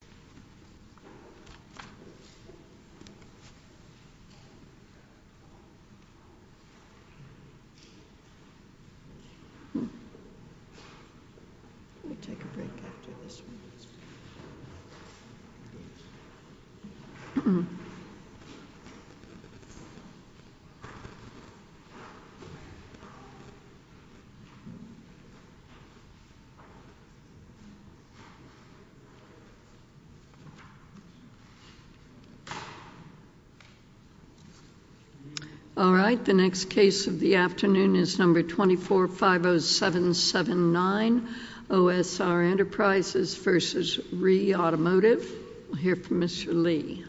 Let me take a break after this one. All right, the next case of the afternoon is number 2450779, OSR Enterprises v. Ree Automotive. We'll hear from Mr. Lee.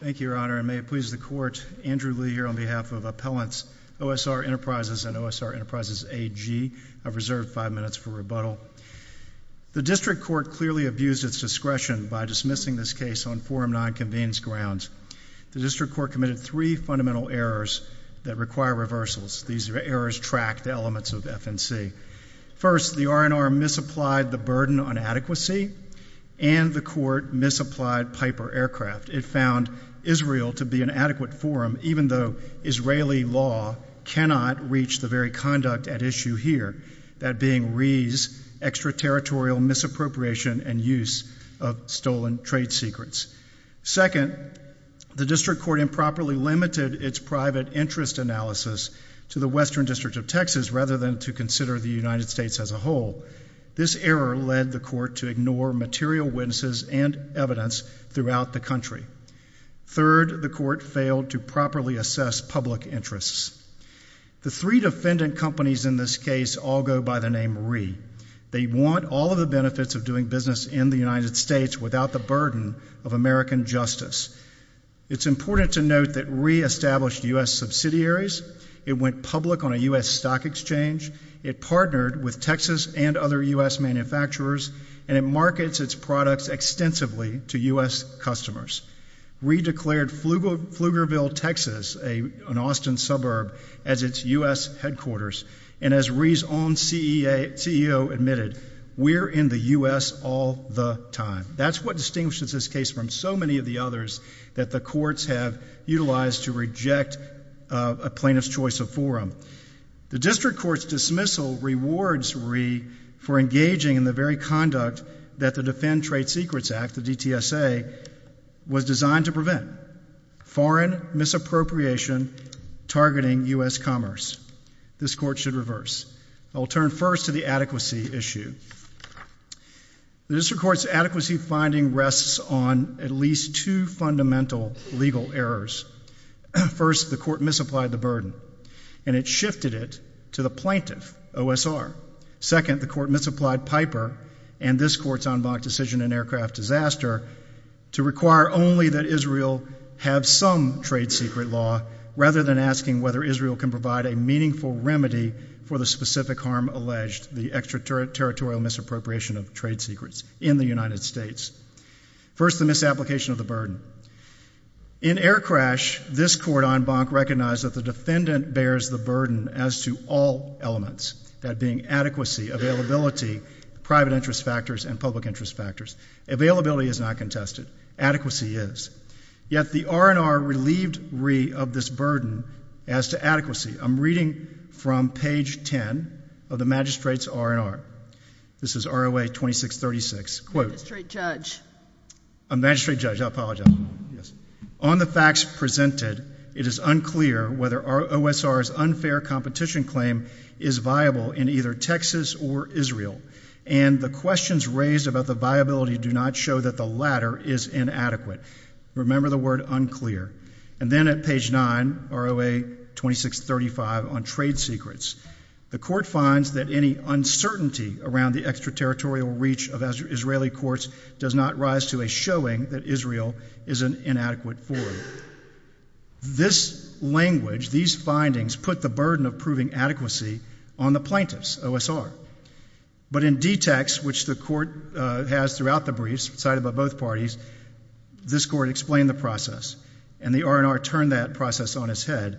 Thank you, Your Honor, and may it please the Court, Andrew Lee here on behalf of Appellants OSR Enterprises and OSR Enterprises AG, I've reserved five minutes for rebuttal. The District Court clearly abused its discretion by dismissing this case on Forum 9 convenes grounds. The District Court committed three fundamental errors that require reversals. These errors track the elements of FNC. First, the R&R misapplied the burden on adequacy and the Court misapplied Piper Aircraft. It found Israel to be an adequate forum, even though Israeli law cannot reach the very conduct at issue here. That being Ree's extraterritorial misappropriation and use of stolen trade secrets. Second, the District Court improperly limited its private interest analysis to the Western District of Texas rather than to consider the United States as a whole. This error led the Court to ignore material witnesses and evidence throughout the country. Third, the Court failed to properly assess public interests. The three defendant companies in this case all go by the name Ree. They want all of the benefits of doing business in the United States without the burden of American justice. It's important to note that Ree established U.S. subsidiaries. It went public on a U.S. stock exchange. It partnered with Texas and other U.S. manufacturers, and it markets its products extensively to U.S. customers. Ree declared Pflugerville, Texas, an Austin suburb, as its U.S. headquarters. And as Ree's own CEO admitted, we're in the U.S. all the time. That's what distinguishes this case from so many of the others that the courts have utilized to reject a plaintiff's choice of forum. The District Court's dismissal rewards Ree for engaging in the very conduct that the Fenn Trade Secrets Act, the DTSA, was designed to prevent, foreign misappropriation targeting U.S. commerce. This Court should reverse. I will turn first to the adequacy issue. The District Court's adequacy finding rests on at least two fundamental legal errors. First, the Court misapplied the burden, and it shifted it to the plaintiff, OSR. Second, the Court misapplied Piper and this Court's en banc decision in Aircraft Disaster to require only that Israel have some trade secret law, rather than asking whether Israel can provide a meaningful remedy for the specific harm alleged, the extraterritorial misappropriation of trade secrets in the United States. First, the misapplication of the burden. In Air Crash, this Court en banc recognized that the defendant bears the burden as to all elements, that being adequacy, availability, private interest factors, and public interest factors. Availability is not contested. Adequacy is. Yet, the R&R relieved Ree of this burden as to adequacy. I'm reading from page 10 of the magistrate's R&R. This is ROA 2636, quote, a magistrate judge, I apologize. On the facts presented, it is unclear whether OSR's unfair competition claim is viable in either Texas or Israel. And the questions raised about the viability do not show that the latter is inadequate. Remember the word unclear. And then at page 9, ROA 2635 on trade secrets. The Court finds that any uncertainty around the extraterritorial reach of Israeli courts does not rise to a showing that Israel is an inadequate forum. This language, these findings, put the burden of proving adequacy on the plaintiffs, OSR. But in DTEX, which the Court has throughout the briefs, cited by both parties, this Court explained the process. And the R&R turned that process on its head.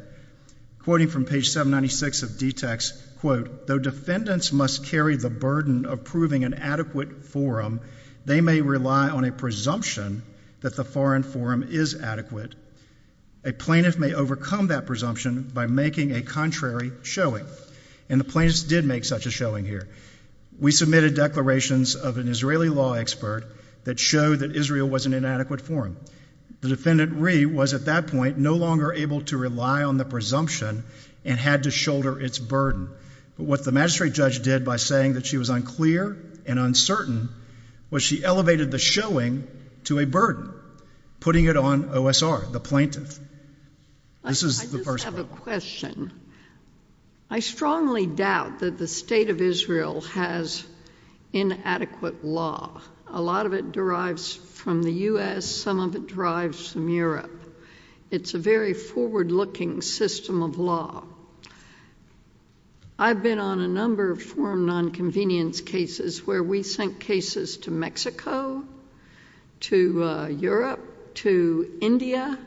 Quoting from page 796 of DTEX, quote, though defendants must carry the burden of proving an adequate forum, they may rely on a presumption that the foreign forum is adequate. A plaintiff may overcome that presumption by making a contrary showing. And the plaintiffs did make such a showing here. We submitted declarations of an Israeli law expert that showed that Israel was an inadequate forum. The defendant, Ree, was at that point no longer able to rely on the presumption and had to shoulder its burden. But what the magistrate judge did by saying that she was unclear and uncertain was she elevated the showing to a burden, putting it on OSR, the plaintiff. This is the first part. I just have a question. I strongly doubt that the State of Israel has inadequate law. A lot of it derives from the U.S., some of it derives from Europe. It's a very forward-looking system of law. I've been on a number of forum nonconvenience cases where we sent cases to Mexico, to Europe, to India,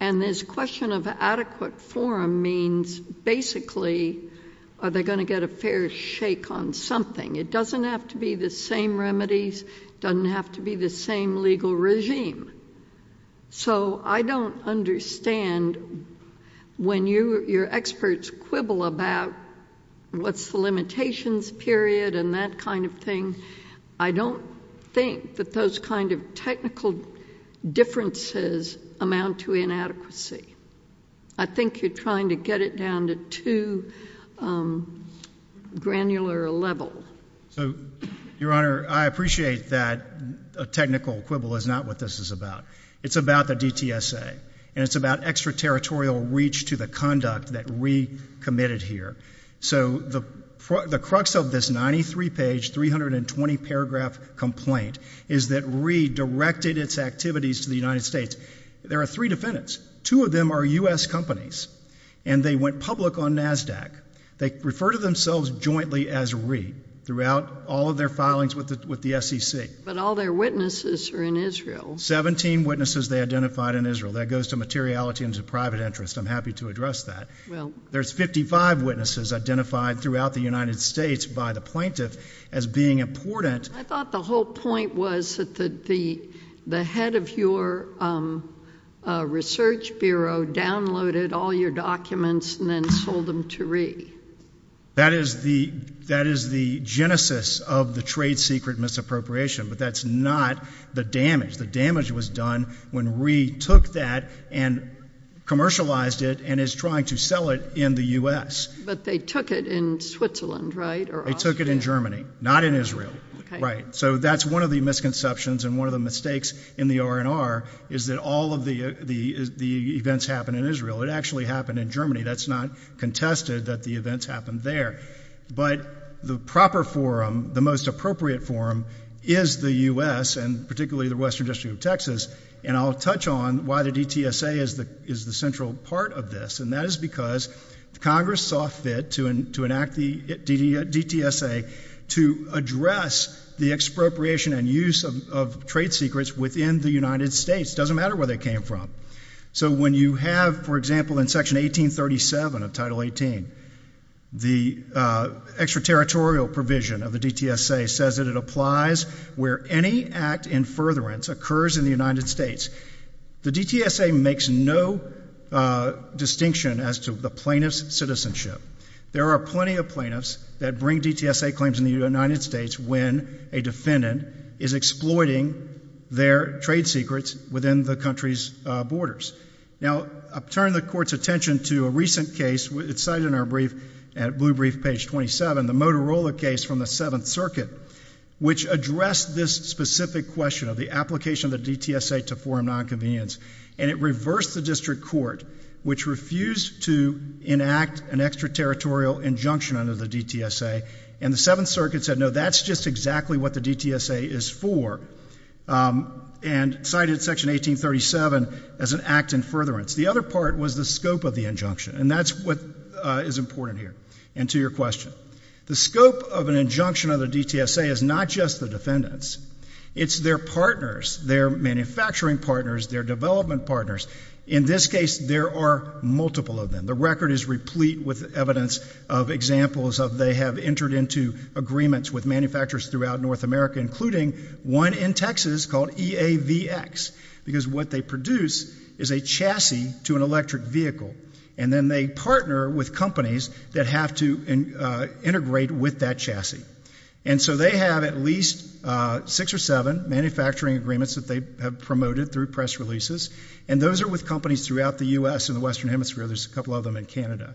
and this question of adequate forum means basically are they going to get a fair shake on something. It doesn't have to be the same remedies, doesn't have to be the same legal regime. So I don't understand when your experts quibble about what's the limitations period and that kind of thing, I don't think that those kind of technical differences amount to inadequacy. I think you're trying to get it down to too granular a level. So your Honor, I appreciate that a technical quibble is not what this is about. It's about the DTSA and it's about extraterritorial reach to the conduct that we committed here. So the crux of this 93-page, 320-paragraph complaint is that we directed its activities to the United States. There are three defendants. Two of them are U.S. companies and they went public on NASDAQ. They refer to themselves jointly as REIT throughout all of their filings with the SEC. But all their witnesses are in Israel. 17 witnesses they identified in Israel. That goes to materiality and to private interest. I'm happy to address that. There's 55 witnesses identified throughout the United States by the plaintiff as being important. I thought the whole point was that the head of your research bureau downloaded all your documents and then sold them to REIT. That is the genesis of the trade secret misappropriation, but that's not the damage. The damage was done when REIT took that and commercialized it and is trying to sell it in the U.S. But they took it in Switzerland, right? They took it in Germany. Not in Israel. Right. So that's one of the misconceptions and one of the mistakes in the R&R is that all of the events happened in Israel. It actually happened in Germany. That's not contested that the events happened there. But the proper forum, the most appropriate forum, is the U.S. and particularly the Western District of Texas. And I'll touch on why the DTSA is the central part of this, and that is because Congress saw fit to enact the DTSA to address the expropriation and use of trade secrets within the United States. It doesn't matter where they came from. So when you have, for example, in Section 1837 of Title 18, the extraterritorial provision of the DTSA says that it applies where any act in furtherance occurs in the United States. The DTSA makes no distinction as to the plaintiff's citizenship. There are plenty of plaintiffs that bring DTSA claims in the United States when a defendant is exploiting their trade secrets within the country's borders. Now, turning the court's attention to a recent case, it's cited in our brief at Blue Brief page 27, the Motorola case from the Seventh Circuit, which addressed this specific question of the application of the DTSA to forum nonconvenience. And it reversed the district court, which refused to enact an extraterritorial injunction under the DTSA. And the Seventh Circuit said, no, that's just exactly what the DTSA is for, and cited Section 1837 as an act in furtherance. The other part was the scope of the injunction, and that's what is important here. And to your question, the scope of an injunction of the DTSA is not just the defendants. It's their partners, their manufacturing partners, their development partners. In this case, there are multiple of them. The record is replete with evidence of examples of they have entered into agreements with manufacturers throughout North America, including one in Texas called EAVX, because what they produce is a chassis to an electric vehicle. And then they partner with companies that have to integrate with that chassis. And so they have at least six or seven manufacturing agreements that they have promoted through press releases. And those are with companies throughout the U.S. and the Western Hemisphere. There's a couple of them in Canada.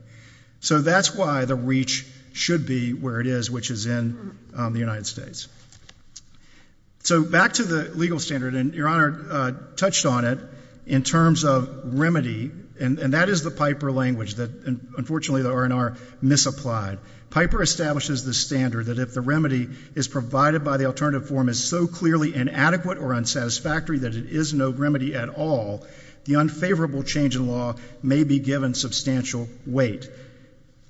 So that's why the reach should be where it is, which is in the United States. So back to the legal standard, and Your Honor touched on it in terms of remedy. And that is the PIPER language that, unfortunately, the R&R misapplied. PIPER establishes the standard that if the remedy is provided by the alternative form is so clearly inadequate or unsatisfactory that it is no remedy at all, the unfavorable change in law may be given substantial weight.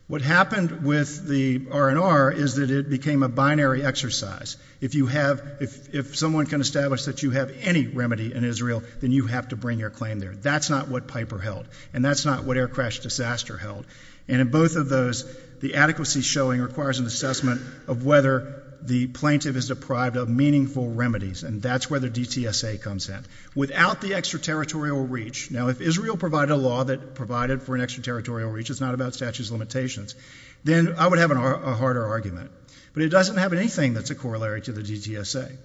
What happened with the R&R is that it became a binary exercise. If you have, if someone can establish that you have any remedy in Israel, then you have to bring your claim there. That's not what PIPER held. And that's not what Air Crash Disaster held. And in both of those, the adequacy showing requires an assessment of whether the plaintiff is deprived of meaningful remedies. And that's where the DTSA comes in. Without the extraterritorial reach, now, if Israel provided a law that provided for an extraterritorial reach, it's not about statutes of limitations, then I would have a harder argument. But it doesn't have anything that's a corollary to the DTSA.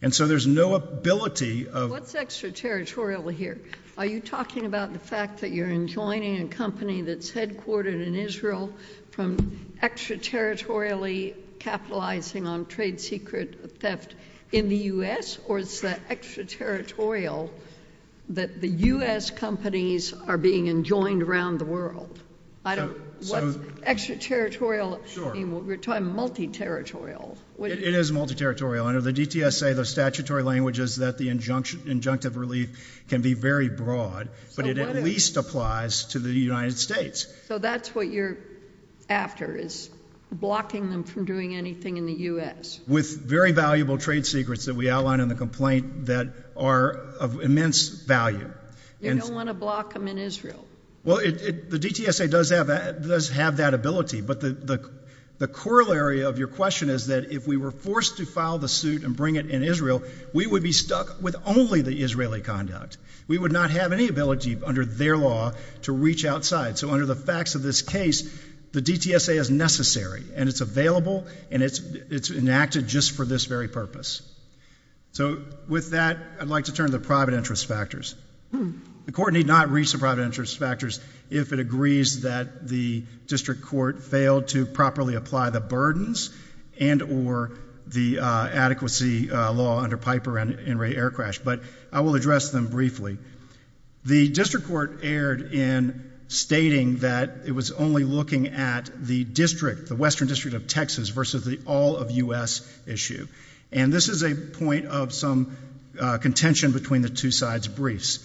And so there's no ability of— What's extraterritorial here? Are you talking about the fact that you're enjoining a company that's headquartered in Israel from extraterritorially capitalizing on trade secret theft in the U.S.? Or is that extraterritorial that the U.S. companies are being enjoined around the world? I don't— Extraterritorial— Sure. I mean, we're talking multi-territorial. It is multi-territorial. Under the DTSA, the statutory language is that the injunction, injunctive relief can be very broad, but it at least applies to the United States. So that's what you're after, is blocking them from doing anything in the U.S.? With very valuable trade secrets that we outline in the complaint that are of immense value. You don't want to block them in Israel? Well, the DTSA does have that ability. But the corollary of your question is that if we were forced to file the suit and bring it in Israel, we would be stuck with only the Israeli conduct. We would not have any ability, under their law, to reach outside. So under the facts of this case, the DTSA is necessary, and it's available, and it's enacted just for this very purpose. So with that, I'd like to turn to the private interest factors. The court need not reach the private interest factors if it agrees that the district court failed to properly apply the burdens and or the adequacy law under Piper and Ray Aircrash. But I will address them briefly. The district court erred in stating that it was only looking at the district, the Western District of Texas, versus the all-of-U.S. issue. And this is a point of some contention between the two sides' briefs.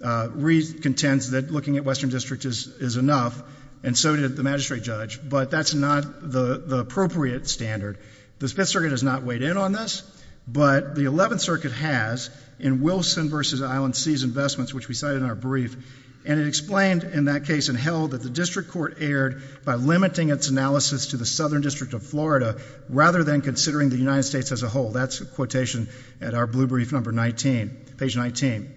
Reid contends that looking at Western District is enough, and so did the magistrate judge, but that's not the appropriate standard. The Fifth Circuit has not weighed in on this, but the Eleventh Circuit has, in Wilson v. Island Seas Investments, which we cited in our brief, and it explained in that case and held that the district court erred by limiting its analysis to the Southern District of Florida rather than considering the United States as a whole. That's a quotation at our blue brief number 19, page 19.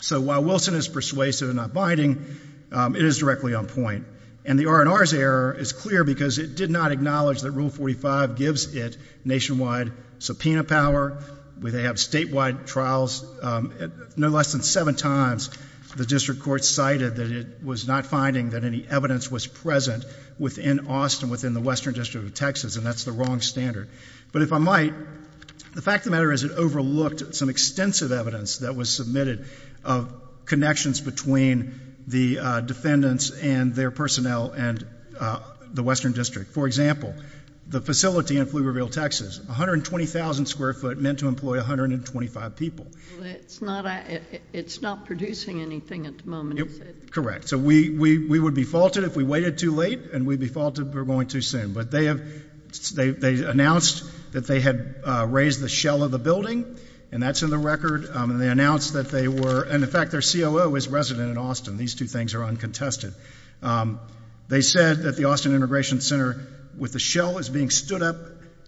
So while Wilson is persuasive and not binding, it is directly on point. And the R&R's error is clear because it did not acknowledge that Rule 45 gives it nationwide subpoena power, they have statewide trials. No less than seven times the district court cited that it was not finding that any evidence was present within Austin, within the Western District of Texas, and that's the wrong standard. But if I might, the fact of the matter is it overlooked some extensive evidence that was submitted of connections between the defendants and their personnel and the Western District. For example, the facility in Pflugerville, Texas, 120,000 square foot, meant to employ 125 people. Well, it's not producing anything at the moment, is it? Correct. So we would be faulted if we waited too late, and we'd be faulted if we were going too soon. But they announced that they had raised the shell of the building, and that's in the record, and they announced that they were, and in fact their COO is resident in Austin. These two things are uncontested. They said that the Austin Integration Center with the shell is being stood up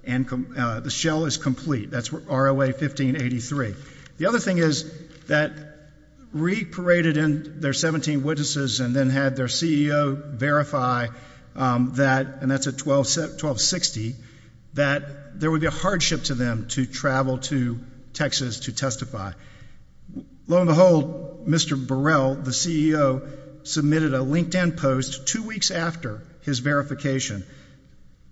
and the shell is complete. That's ROA 1583. The other thing is that re-paraded in their 17 witnesses and then had their CEO verify that, and that's at 1260, that there would be a hardship to them to travel to Texas to verify. Lo and behold, Mr. Burrell, the CEO, submitted a LinkedIn post two weeks after his verification,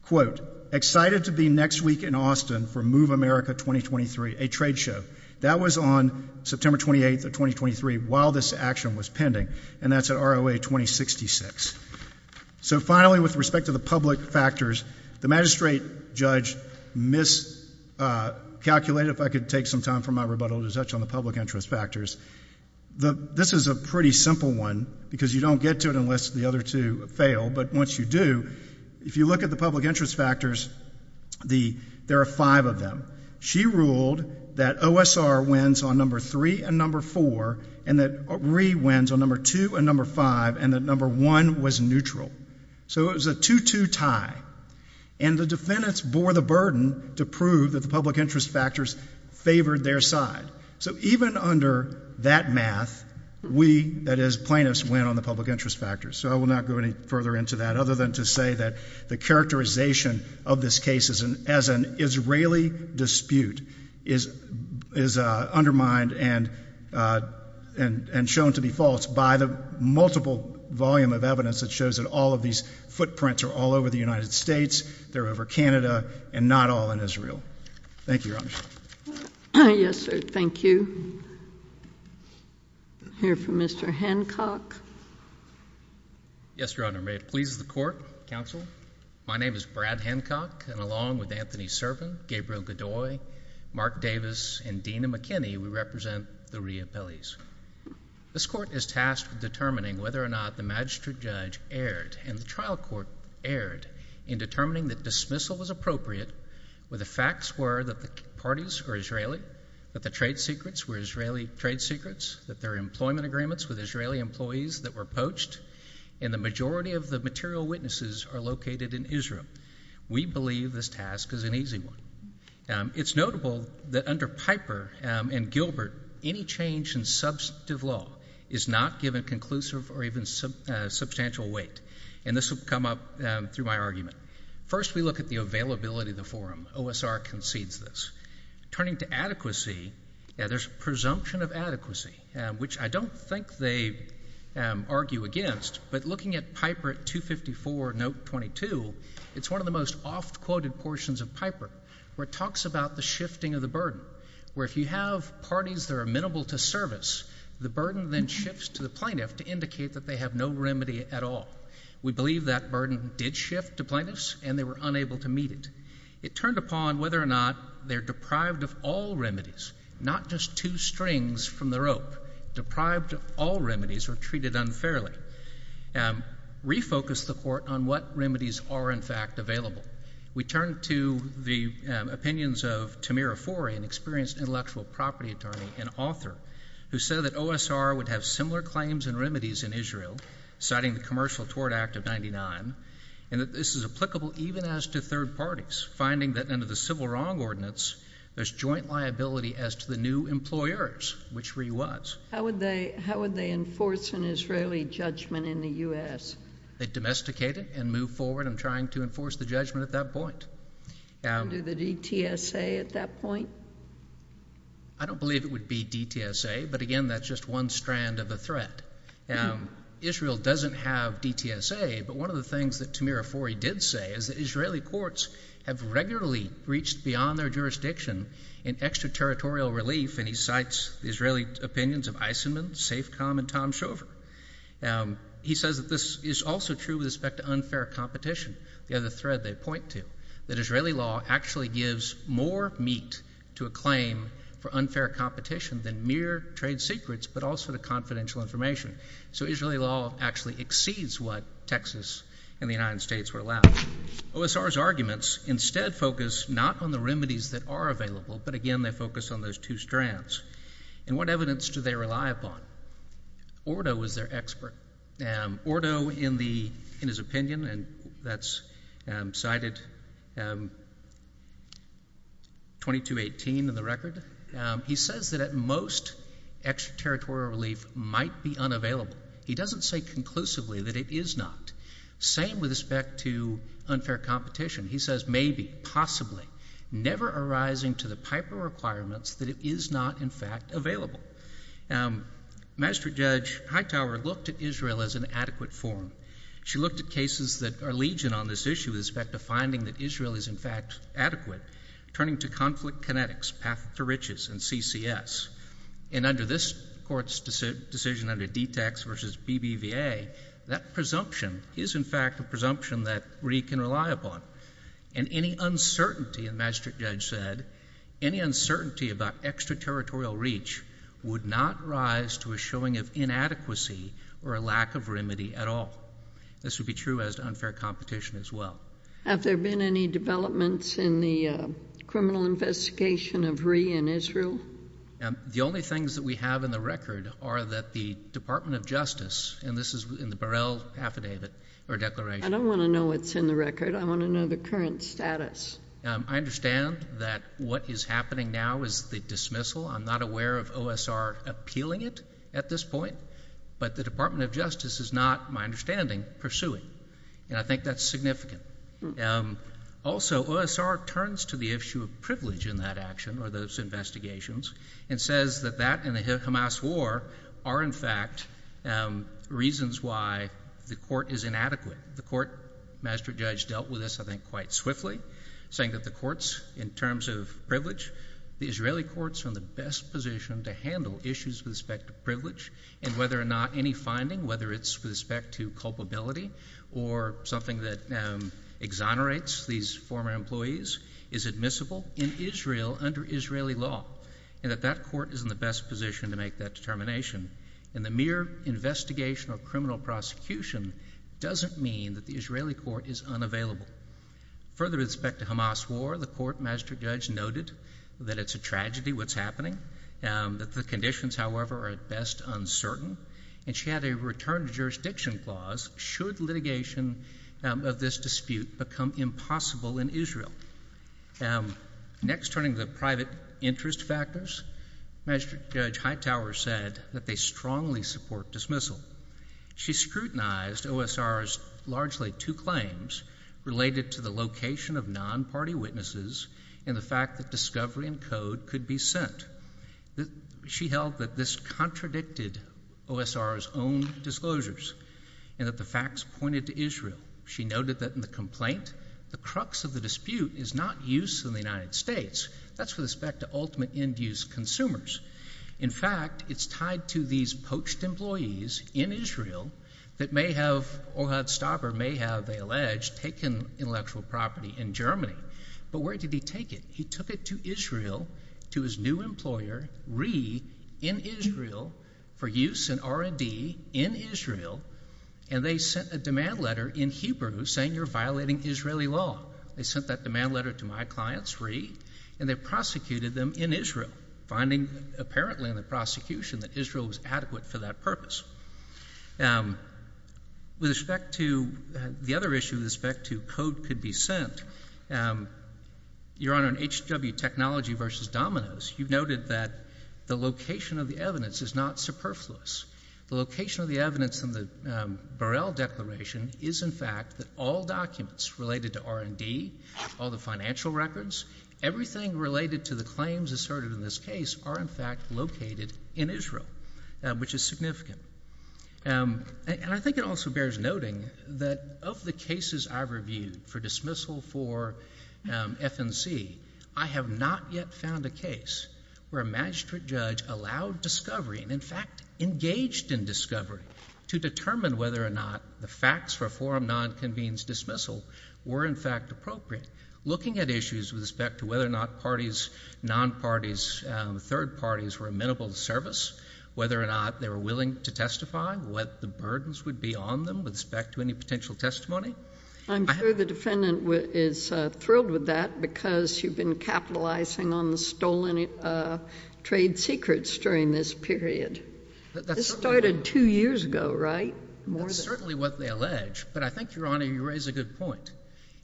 quote, excited to be next week in Austin for Move America 2023, a trade show. That was on September 28th of 2023 while this action was pending, and that's at ROA 2066. So finally, with respect to the public factors, the magistrate judge miscalculated, if I could take some time for my rebuttal to touch on the public interest factors. This is a pretty simple one because you don't get to it unless the other two fail, but once you do, if you look at the public interest factors, there are five of them. She ruled that OSR wins on number three and number four, and that RE wins on number two and number five, and that number one was neutral. So it was a two-two tie, and the defendants bore the burden to prove that the public interest factors favored their side. So even under that math, we, that is plaintiffs, win on the public interest factors. So I will not go any further into that other than to say that the characterization of this case as an Israeli dispute is undermined and shown to be false by the multiple volume of evidence that shows that all of these footprints are all over the United States, they're over Canada, and not all in Israel. Thank you, Your Honor. Yes, sir. Thank you. We'll hear from Mr. Hancock. Yes, Your Honor. May it please the Court, counsel. My name is Brad Hancock, and along with Anthony Servin, Gabriel Godoy, Mark Davis, and Dena McKinney, we represent the reappellees. This Court is tasked with determining whether or not the magistrate judge erred and the trial court erred in determining that dismissal was appropriate, where the facts were that the parties are Israeli, that the trade secrets were Israeli trade secrets, that there are employment agreements with Israeli employees that were poached, and the majority of the material witnesses are located in Israel. We believe this task is an easy one. It's notable that under Piper and Gilbert, any change in substantive law is not given conclusive or even substantial weight. And this will come up through my argument. First we look at the availability of the forum. OSR concedes this. Turning to adequacy, there's a presumption of adequacy, which I don't think they argue against, but looking at Piper at 254, note 22, it's one of the most oft-quoted portions of Piper, where it talks about the shifting of the burden, where if you have parties that are amenable to service, the burden then shifts to the plaintiff to indicate that they have no remedy at all. We believe that burden did shift to plaintiffs, and they were unable to meet it. It turned upon whether or not they're deprived of all remedies, not just two strings from the rope. Deprived of all remedies or treated unfairly. Refocus the court on what remedies are in fact available. We turn to the opinions of Tamir Afori, an experienced intellectual property attorney and author, who said that OSR would have similar claims and remedies in Israel, citing the Commercial Tort Act of 99, and that this is applicable even as to third parties, finding that under the Civil Wrong Ordinance, there's joint liability as to the new employers, which Ree was. How would they enforce an Israeli judgment in the U.S.? They'd domesticate it and move forward in trying to enforce the judgment at that point. Would they do the DTSA at that point? I don't believe it would be DTSA, but again, that's just one strand of the threat. Israel doesn't have DTSA, but one of the things that Tamir Afori did say is that Israeli courts have regularly reached beyond their jurisdiction in extraterritorial relief, and he cites the Israeli opinions of Eisenman, Safecom, and Tom Shover. He says that this is also true with respect to unfair competition, the other thread they point to, that Israeli law actually gives more meat to a claim for unfair competition than mere trade secrets, but also the confidential information. So Israeli law actually exceeds what Texas and the United States were allowed. OSR's arguments instead focus not on the remedies that are available, but again, they focus on those two strands. And what evidence do they rely upon? Ordo was their expert. Ordo, in his opinion, and that's cited 2218 in the record, he says that at most, extraterritorial relief might be unavailable. He doesn't say conclusively that it is not. Same with respect to unfair competition. He says maybe, possibly, never arising to the Piper requirements, that it is not in fact available. Magistrate Judge Hightower looked at Israel as an adequate forum. She looked at cases that are legion on this issue with respect to finding that Israel is in fact adequate, turning to conflict kinetics, path to riches, and CCS. And under this court's decision under DTACS versus BBVA, that presumption is in fact a presumption that RE can rely upon. And any uncertainty, the magistrate judge said, any uncertainty about extraterritorial reach would not rise to a showing of inadequacy or a lack of remedy at all. This would be true as to unfair competition as well. Have there been any developments in the criminal investigation of RE in Israel? The only things that we have in the record are that the Department of Justice, and this is in the Burrell Affidavit or Declaration. I don't want to know what's in the record. I want to know the current status. I understand that what is happening now is the dismissal. I'm not aware of OSR appealing it at this point. But the Department of Justice is not, my understanding, pursuing. And I think that's significant. Also OSR turns to the issue of privilege in that action or those investigations and says that that and the Hamas war are in fact reasons why the court is inadequate. The court magistrate judge dealt with this, I think, quite swiftly, saying that the courts in terms of privilege, the Israeli courts are in the best position to handle issues with respect to privilege and whether or not any finding, whether it's with respect to culpability or something that exonerates these former employees, is admissible in Israel under Israeli law and that that court is in the best position to make that determination. And the mere investigation or criminal prosecution doesn't mean that the Israeli court is unavailable. Further respect to Hamas war, the court magistrate judge noted that it's a tragedy what's happening, that the conditions, however, are at best uncertain. And she had a return to jurisdiction clause should litigation of this dispute become impossible in Israel. Next, turning to private interest factors, magistrate judge Hightower said that they strongly support dismissal. She scrutinized OSR's largely two claims related to the location of non-party witnesses and the fact that discovery and code could be sent. She held that this contradicted OSR's own disclosures and that the facts pointed to Israel. She noted that in the complaint, the crux of the dispute is not use in the United States, that's with respect to ultimate end use consumers. In fact, it's tied to these poached employees in Israel that may have, or had stopped or may have, they alleged, taken intellectual property in Germany. But where did he take it? He took it to Israel, to his new employer, RE, in Israel for use in R&D in Israel and they sent a demand letter in Hebrew saying you're violating Israeli law. They sent that demand letter to my clients, RE, and they prosecuted them in Israel, finding apparently in the prosecution that Israel was adequate for that purpose. With respect to, the other issue with respect to code could be sent, Your Honor, in HW Technology versus Domino's, you noted that the location of the evidence is not superfluous. The location of the evidence in the Burrell Declaration is in fact that all documents related to R&D, all the financial records, everything related to the claims asserted in this case are in fact located in Israel, which is significant. And I think it also bears noting that of the cases I've reviewed for dismissal for FNC, I have not yet found a case where a magistrate judge allowed discovery and in fact engaged in discovery to determine whether or not the facts for a forum non-convenes dismissal were in fact appropriate. Looking at issues with respect to whether or not parties, non-parties, third parties were amenable to service, whether or not they were willing to testify, what the burdens would be on them with respect to any potential testimony. I'm sure the defendant is thrilled with that because you've been capitalizing on the stolen trade secrets during this period. That started two years ago, right? That's certainly what they allege, but I think, Your Honor, you raise a good point.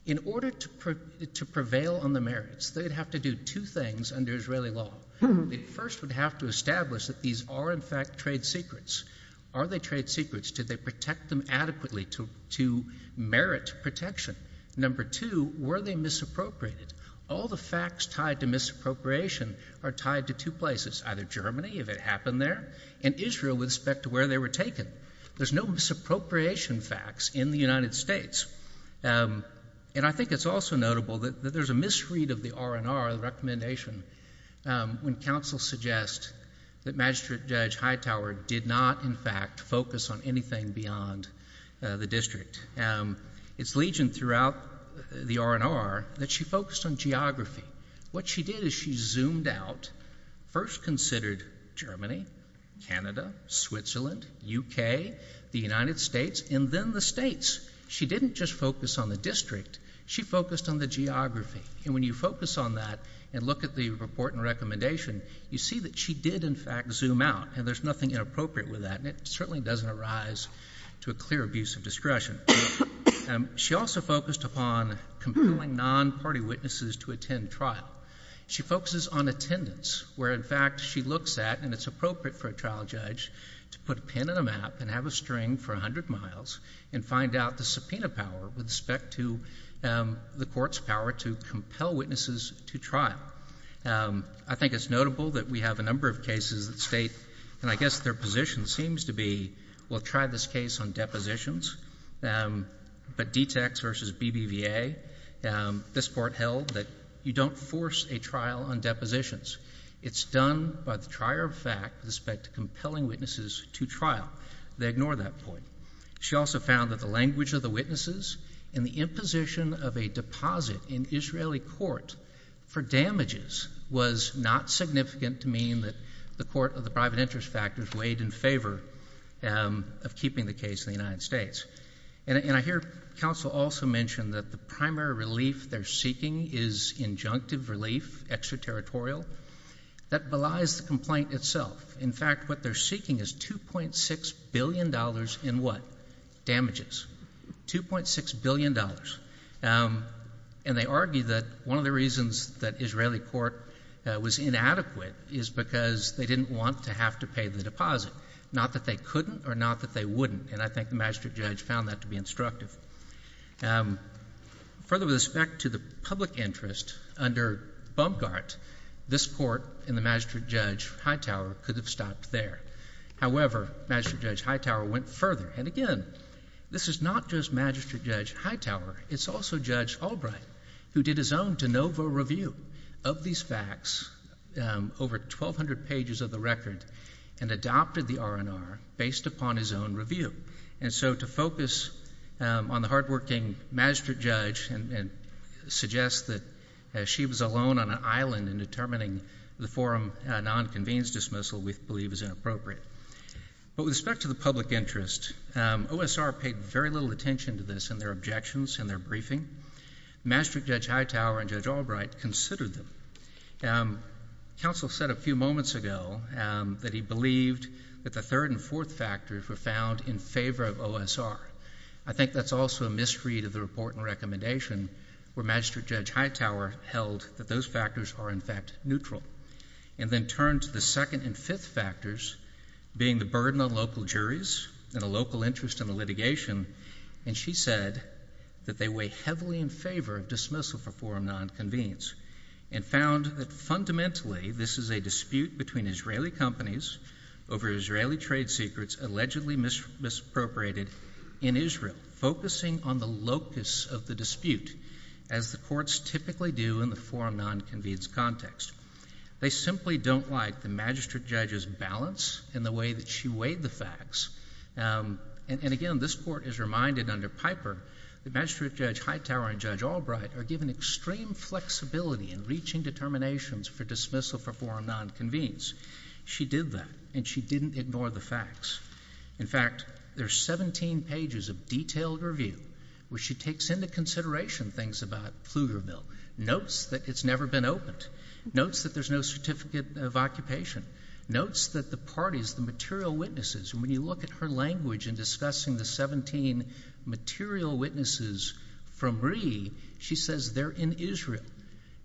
In order to prevail on the merits, they'd have to do two things under Israeli law. They first would have to establish that these are in fact trade secrets. Are they trade secrets? Did they protect them adequately to merit protection? Number two, were they misappropriated? All the facts tied to misappropriation are tied to two places, either Germany, if it happened there, and Israel with respect to where they were taken. There's no misappropriation facts in the United States. And I think it's also notable that there's a misread of the R&R, the recommendation, when counsel suggests that Magistrate Judge Hightower did not in fact focus on anything beyond the district. It's legion throughout the R&R that she focused on geography. What she did is she zoomed out, first considered Germany, Canada, Switzerland, UK, the United States, and then the states. She didn't just focus on the district. She focused on the geography. And when you focus on that and look at the report and recommendation, you see that she did in fact zoom out, and there's nothing inappropriate with that, and it certainly doesn't arise to a clear abuse of discretion. She also focused upon compelling non-party witnesses to attend trial. She focuses on attendance, where in fact she looks at, and it's appropriate for a trial judge, to put a pin in a map and have a string for 100 miles and find out the subpoena power with respect to the court's power to compel witnesses to trial. I think it's notable that we have a number of cases that state, and I guess their position seems to be, we'll try this case on depositions, but DTACs versus BBVA, this court held that you don't force a trial on depositions. It's done by the trier of fact with respect to compelling witnesses to trial. They ignore that point. She also found that the language of the witnesses and the imposition of a deposit in Israeli court for damages was not significant to mean that the court of the private interest factors weighed in favor of keeping the case in the United States. And I hear counsel also mention that the primary relief they're seeking is injunctive relief, extraterritorial, that belies the complaint itself. In fact, what they're seeking is $2.6 billion in what? Damages. $2.6 billion. And they argue that one of the reasons that Israeli court was inadequate is because they didn't want to have to pay the deposit. Not that they couldn't or not that they wouldn't. And I think the magistrate judge found that to be instructive. Further with respect to the public interest under Bumgart, this court and the magistrate judge Hightower could have stopped there. However, magistrate judge Hightower went further. And again, this is not just magistrate judge Hightower, it's also Judge Albright who did his own de novo review of these facts, over 1,200 pages of the record, and adopted the R&R based upon his own review. And so to focus on the hardworking magistrate judge and suggest that she was alone on an island in determining the forum non-convenes dismissal we believe is inappropriate. But with respect to the public interest, OSR paid very little attention to this in their objections, in their briefing. Magistrate judge Hightower and Judge Albright considered them. Counsel said a few moments ago that he believed that the third and fourth factors were found in favor of OSR. I think that's also a misread of the report and recommendation where magistrate judge Hightower held that those factors are in fact neutral. And then turned to the second and fifth factors, being the burden on local juries and a local interest in the litigation, and she said that they weigh heavily in favor of dismissal for forum non-convenes, and found that fundamentally this is a dispute between Israeli companies over Israeli trade secrets allegedly misappropriated in Israel, focusing on the locus of the dispute as the courts typically do in the forum non-convenes context. They simply don't like the magistrate judge's balance in the way that she weighed the facts. And again, this court is reminded under Piper that magistrate judge Hightower and Judge Albright are given extreme flexibility in reaching determinations for dismissal for forum non-convenes. She did that, and she didn't ignore the facts. In fact, there's 17 pages of detailed review where she takes into consideration things about Pflugerville, notes that it's never been opened, notes that there's no certificate of occupation, notes that the parties, the material witnesses, and when you look at her language in discussing the 17 material witnesses from Ree, she says they're in Israel.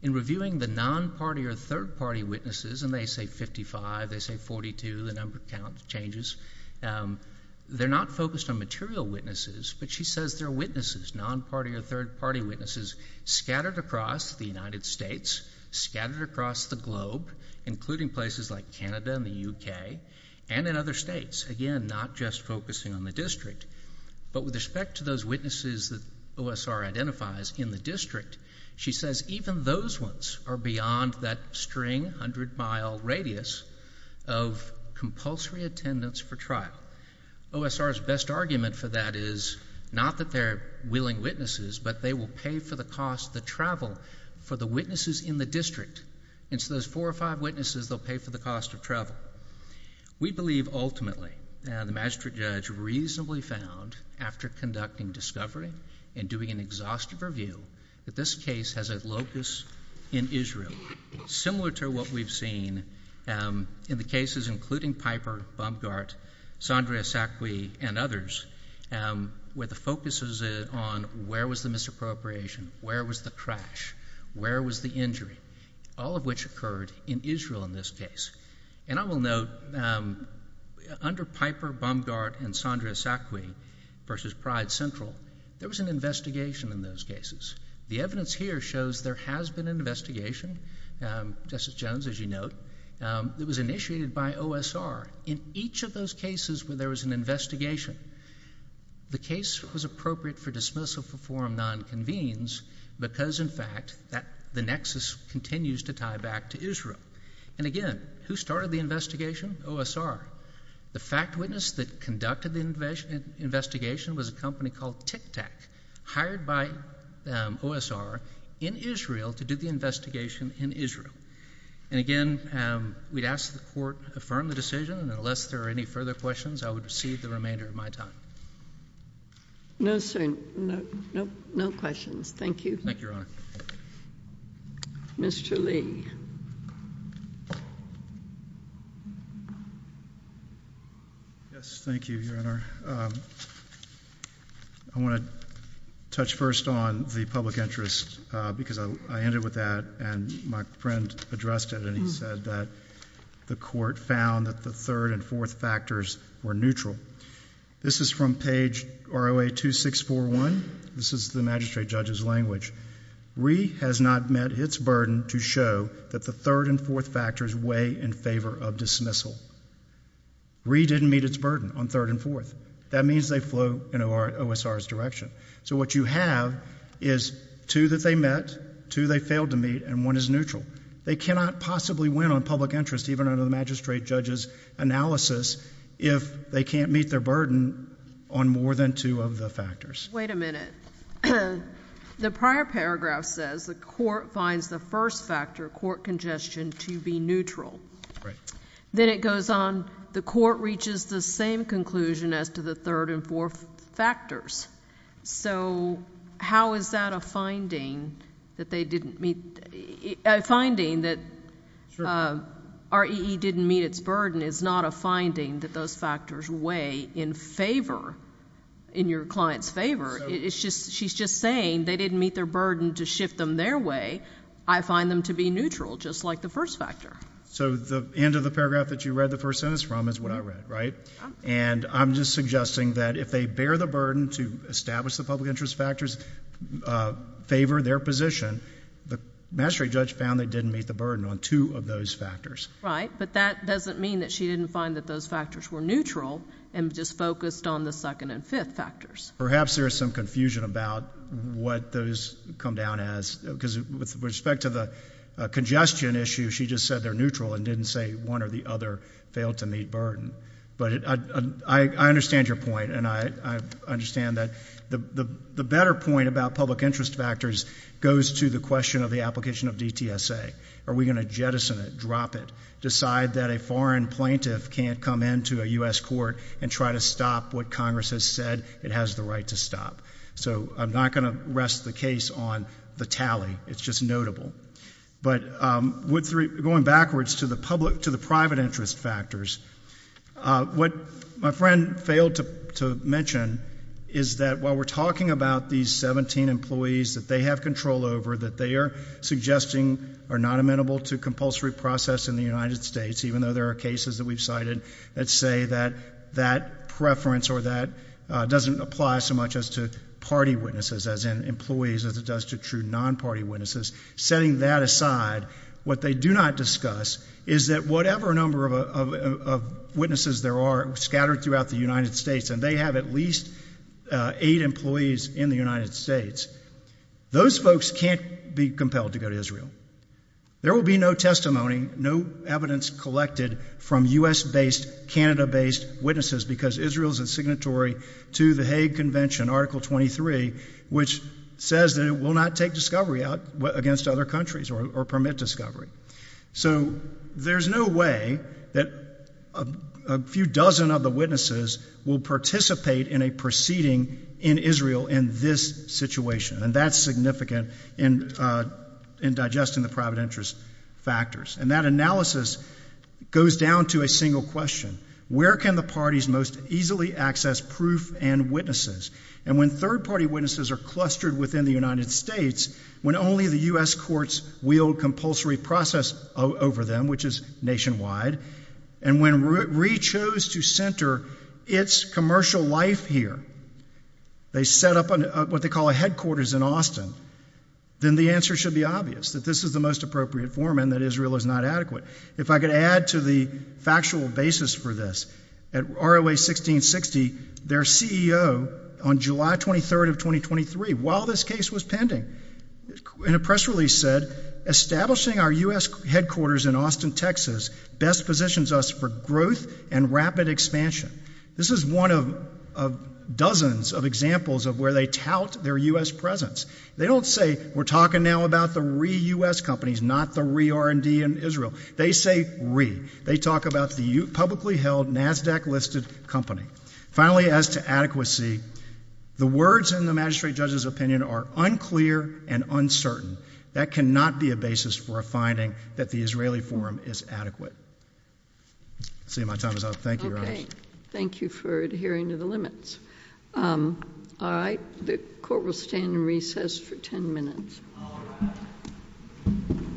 In reviewing the non-party or third-party witnesses, and they say 55, they say 42, the number count changes, they're not focused on material witnesses, but she says they're witnesses, non-party or third-party witnesses, scattered across the United States, scattered across the globe, including places like Canada and the UK, and in other states. Again, not just focusing on the district. But with respect to those witnesses that OSR identifies in the district, she says even those ones are beyond that string, 100-mile radius of compulsory attendance for trial. OSR's best argument for that is not that they're willing witnesses, but they will pay for the cost, the travel for the witnesses in the district. And so those four or five witnesses, they'll pay for the cost of travel. We believe, ultimately, the magistrate judge reasonably found, after conducting discovery and doing an exhaustive review, that this case has a locus in Israel similar to what we've seen in the cases including Piper, Baumgart, Sandra Sacqui, and others, where the focus is on where was the misappropriation, where was the crash, where was the injury, all of which occurred in Israel in this case. And I will note, under Piper, Baumgart, and Sandra Sacqui versus Pride Central, there was an investigation in those cases. The evidence here shows there has been an investigation, Justice Jones, as you note, that was initiated by OSR in each of those cases where there was an investigation. The case was appropriate for dismissal for forum non-convenes because, in fact, that the nexus continues to tie back to Israel. And again, who started the investigation? OSR. The fact witness that conducted the investigation was a company called TICTAC, hired by OSR in Israel to do the investigation in Israel. And again, we'd ask the court to affirm the decision. And unless there are any further questions, I would receive the remainder of my time. No, sir. No questions. Thank you. Thank you, Your Honor. Mr. Lee. Yes, thank you, Your Honor. I want to touch first on the public interest because I ended with that and my friend addressed it and he said that the court found that the third and fourth factors were neutral. This is from page ROA 2641. This is the magistrate judge's language. RE has not met its burden to show that the third and fourth factors weigh in favor of dismissal. RE didn't meet its burden on third and fourth. That means they flow in OSR's direction. So what you have is two that they met, two they failed to meet, and one is neutral. They cannot possibly win on public interest, even under the magistrate judge's analysis, if they can't meet their burden on more than two of the factors. Wait a minute. The prior paragraph says the court finds the first factor, court congestion, to be neutral. Then it goes on, the court reaches the same conclusion as to the third and fourth factors. So how is that a finding that they didn't meet, a finding that REE didn't meet its burden is not a finding that those factors weigh in favor, in your client's favor. It's just, she's just saying they didn't meet their burden to shift them their way. I find them to be neutral, just like the first factor. So the end of the paragraph that you read the first sentence from is what I read, right? And I'm just suggesting that if they bear the burden to establish the public interest factors, favor their position, the magistrate judge found they didn't meet the burden on two of those factors. Right, but that doesn't mean that she didn't find that those factors were neutral and just focused on the second and fifth factors. Perhaps there is some confusion about what those come down as, because with respect to the congestion issue, she just said they're neutral and didn't say one or the other failed to meet burden. But I understand your point, and I understand that the better point about public interest factors goes to the question of the application of DTSA. Are we going to jettison it, drop it, decide that a foreign plaintiff can't come into a U.S. court and try to stop what Congress has said it has the right to stop? So I'm not going to rest the case on the tally. It's just notable. But going backwards to the private interest factors, what my friend failed to mention is that while we're talking about these 17 employees that they have control over, that they are suggesting are not amenable to compulsory process in the United States, even though there are cases that we've cited that say that that preference or that doesn't apply so much as to party witnesses, as in employees, as it does to true non-party witnesses. Setting that aside, what they do not discuss is that whatever number of witnesses there are scattered throughout the United States, and they have at least eight employees in the United States, those folks can't be compelled to go to Israel. There will be no testimony, no evidence collected from U.S.-based, Canada-based witnesses because Israel is a signatory to the Hague Convention, Article 23, which says that it will not take discovery out against other countries or permit discovery. So there's no way that a few dozen of the witnesses will participate in a proceeding in Israel in this situation, and that's significant in digesting the private interest factors. And that analysis goes down to a single question. Where can the parties most easily access proof and witnesses? And when third-party witnesses are clustered within the United States, when only the U.S. courts wield compulsory process over them, which is nationwide, and when we chose to center its commercial life here, they set up what they call a headquarters in Austin, then the answer should be obvious, that this is the most appropriate forum and that Israel is not adequate. If I could add to the factual basis for this, at ROA 1660, their CEO on July 23rd of 2023, while this case was pending, in a press release said, establishing our U.S. headquarters in Austin, Texas, best positions us for growth and rapid expansion. This is one of dozens of examples of where they tout their U.S. presence. They don't say, we're talking now about the re-U.S. companies, not the re-R&D in Israel. They say re. They talk about the publicly held NASDAQ-listed company. Finally, as to adequacy, the words in the magistrate judge's opinion are unclear and uncertain. That cannot be a basis for a finding that the Israeli forum is adequate. I see my time is up. Thank you, Your Honor. Okay. Thank you for adhering to the limits. All right. The court will stand in recess for 10 minutes. All rise.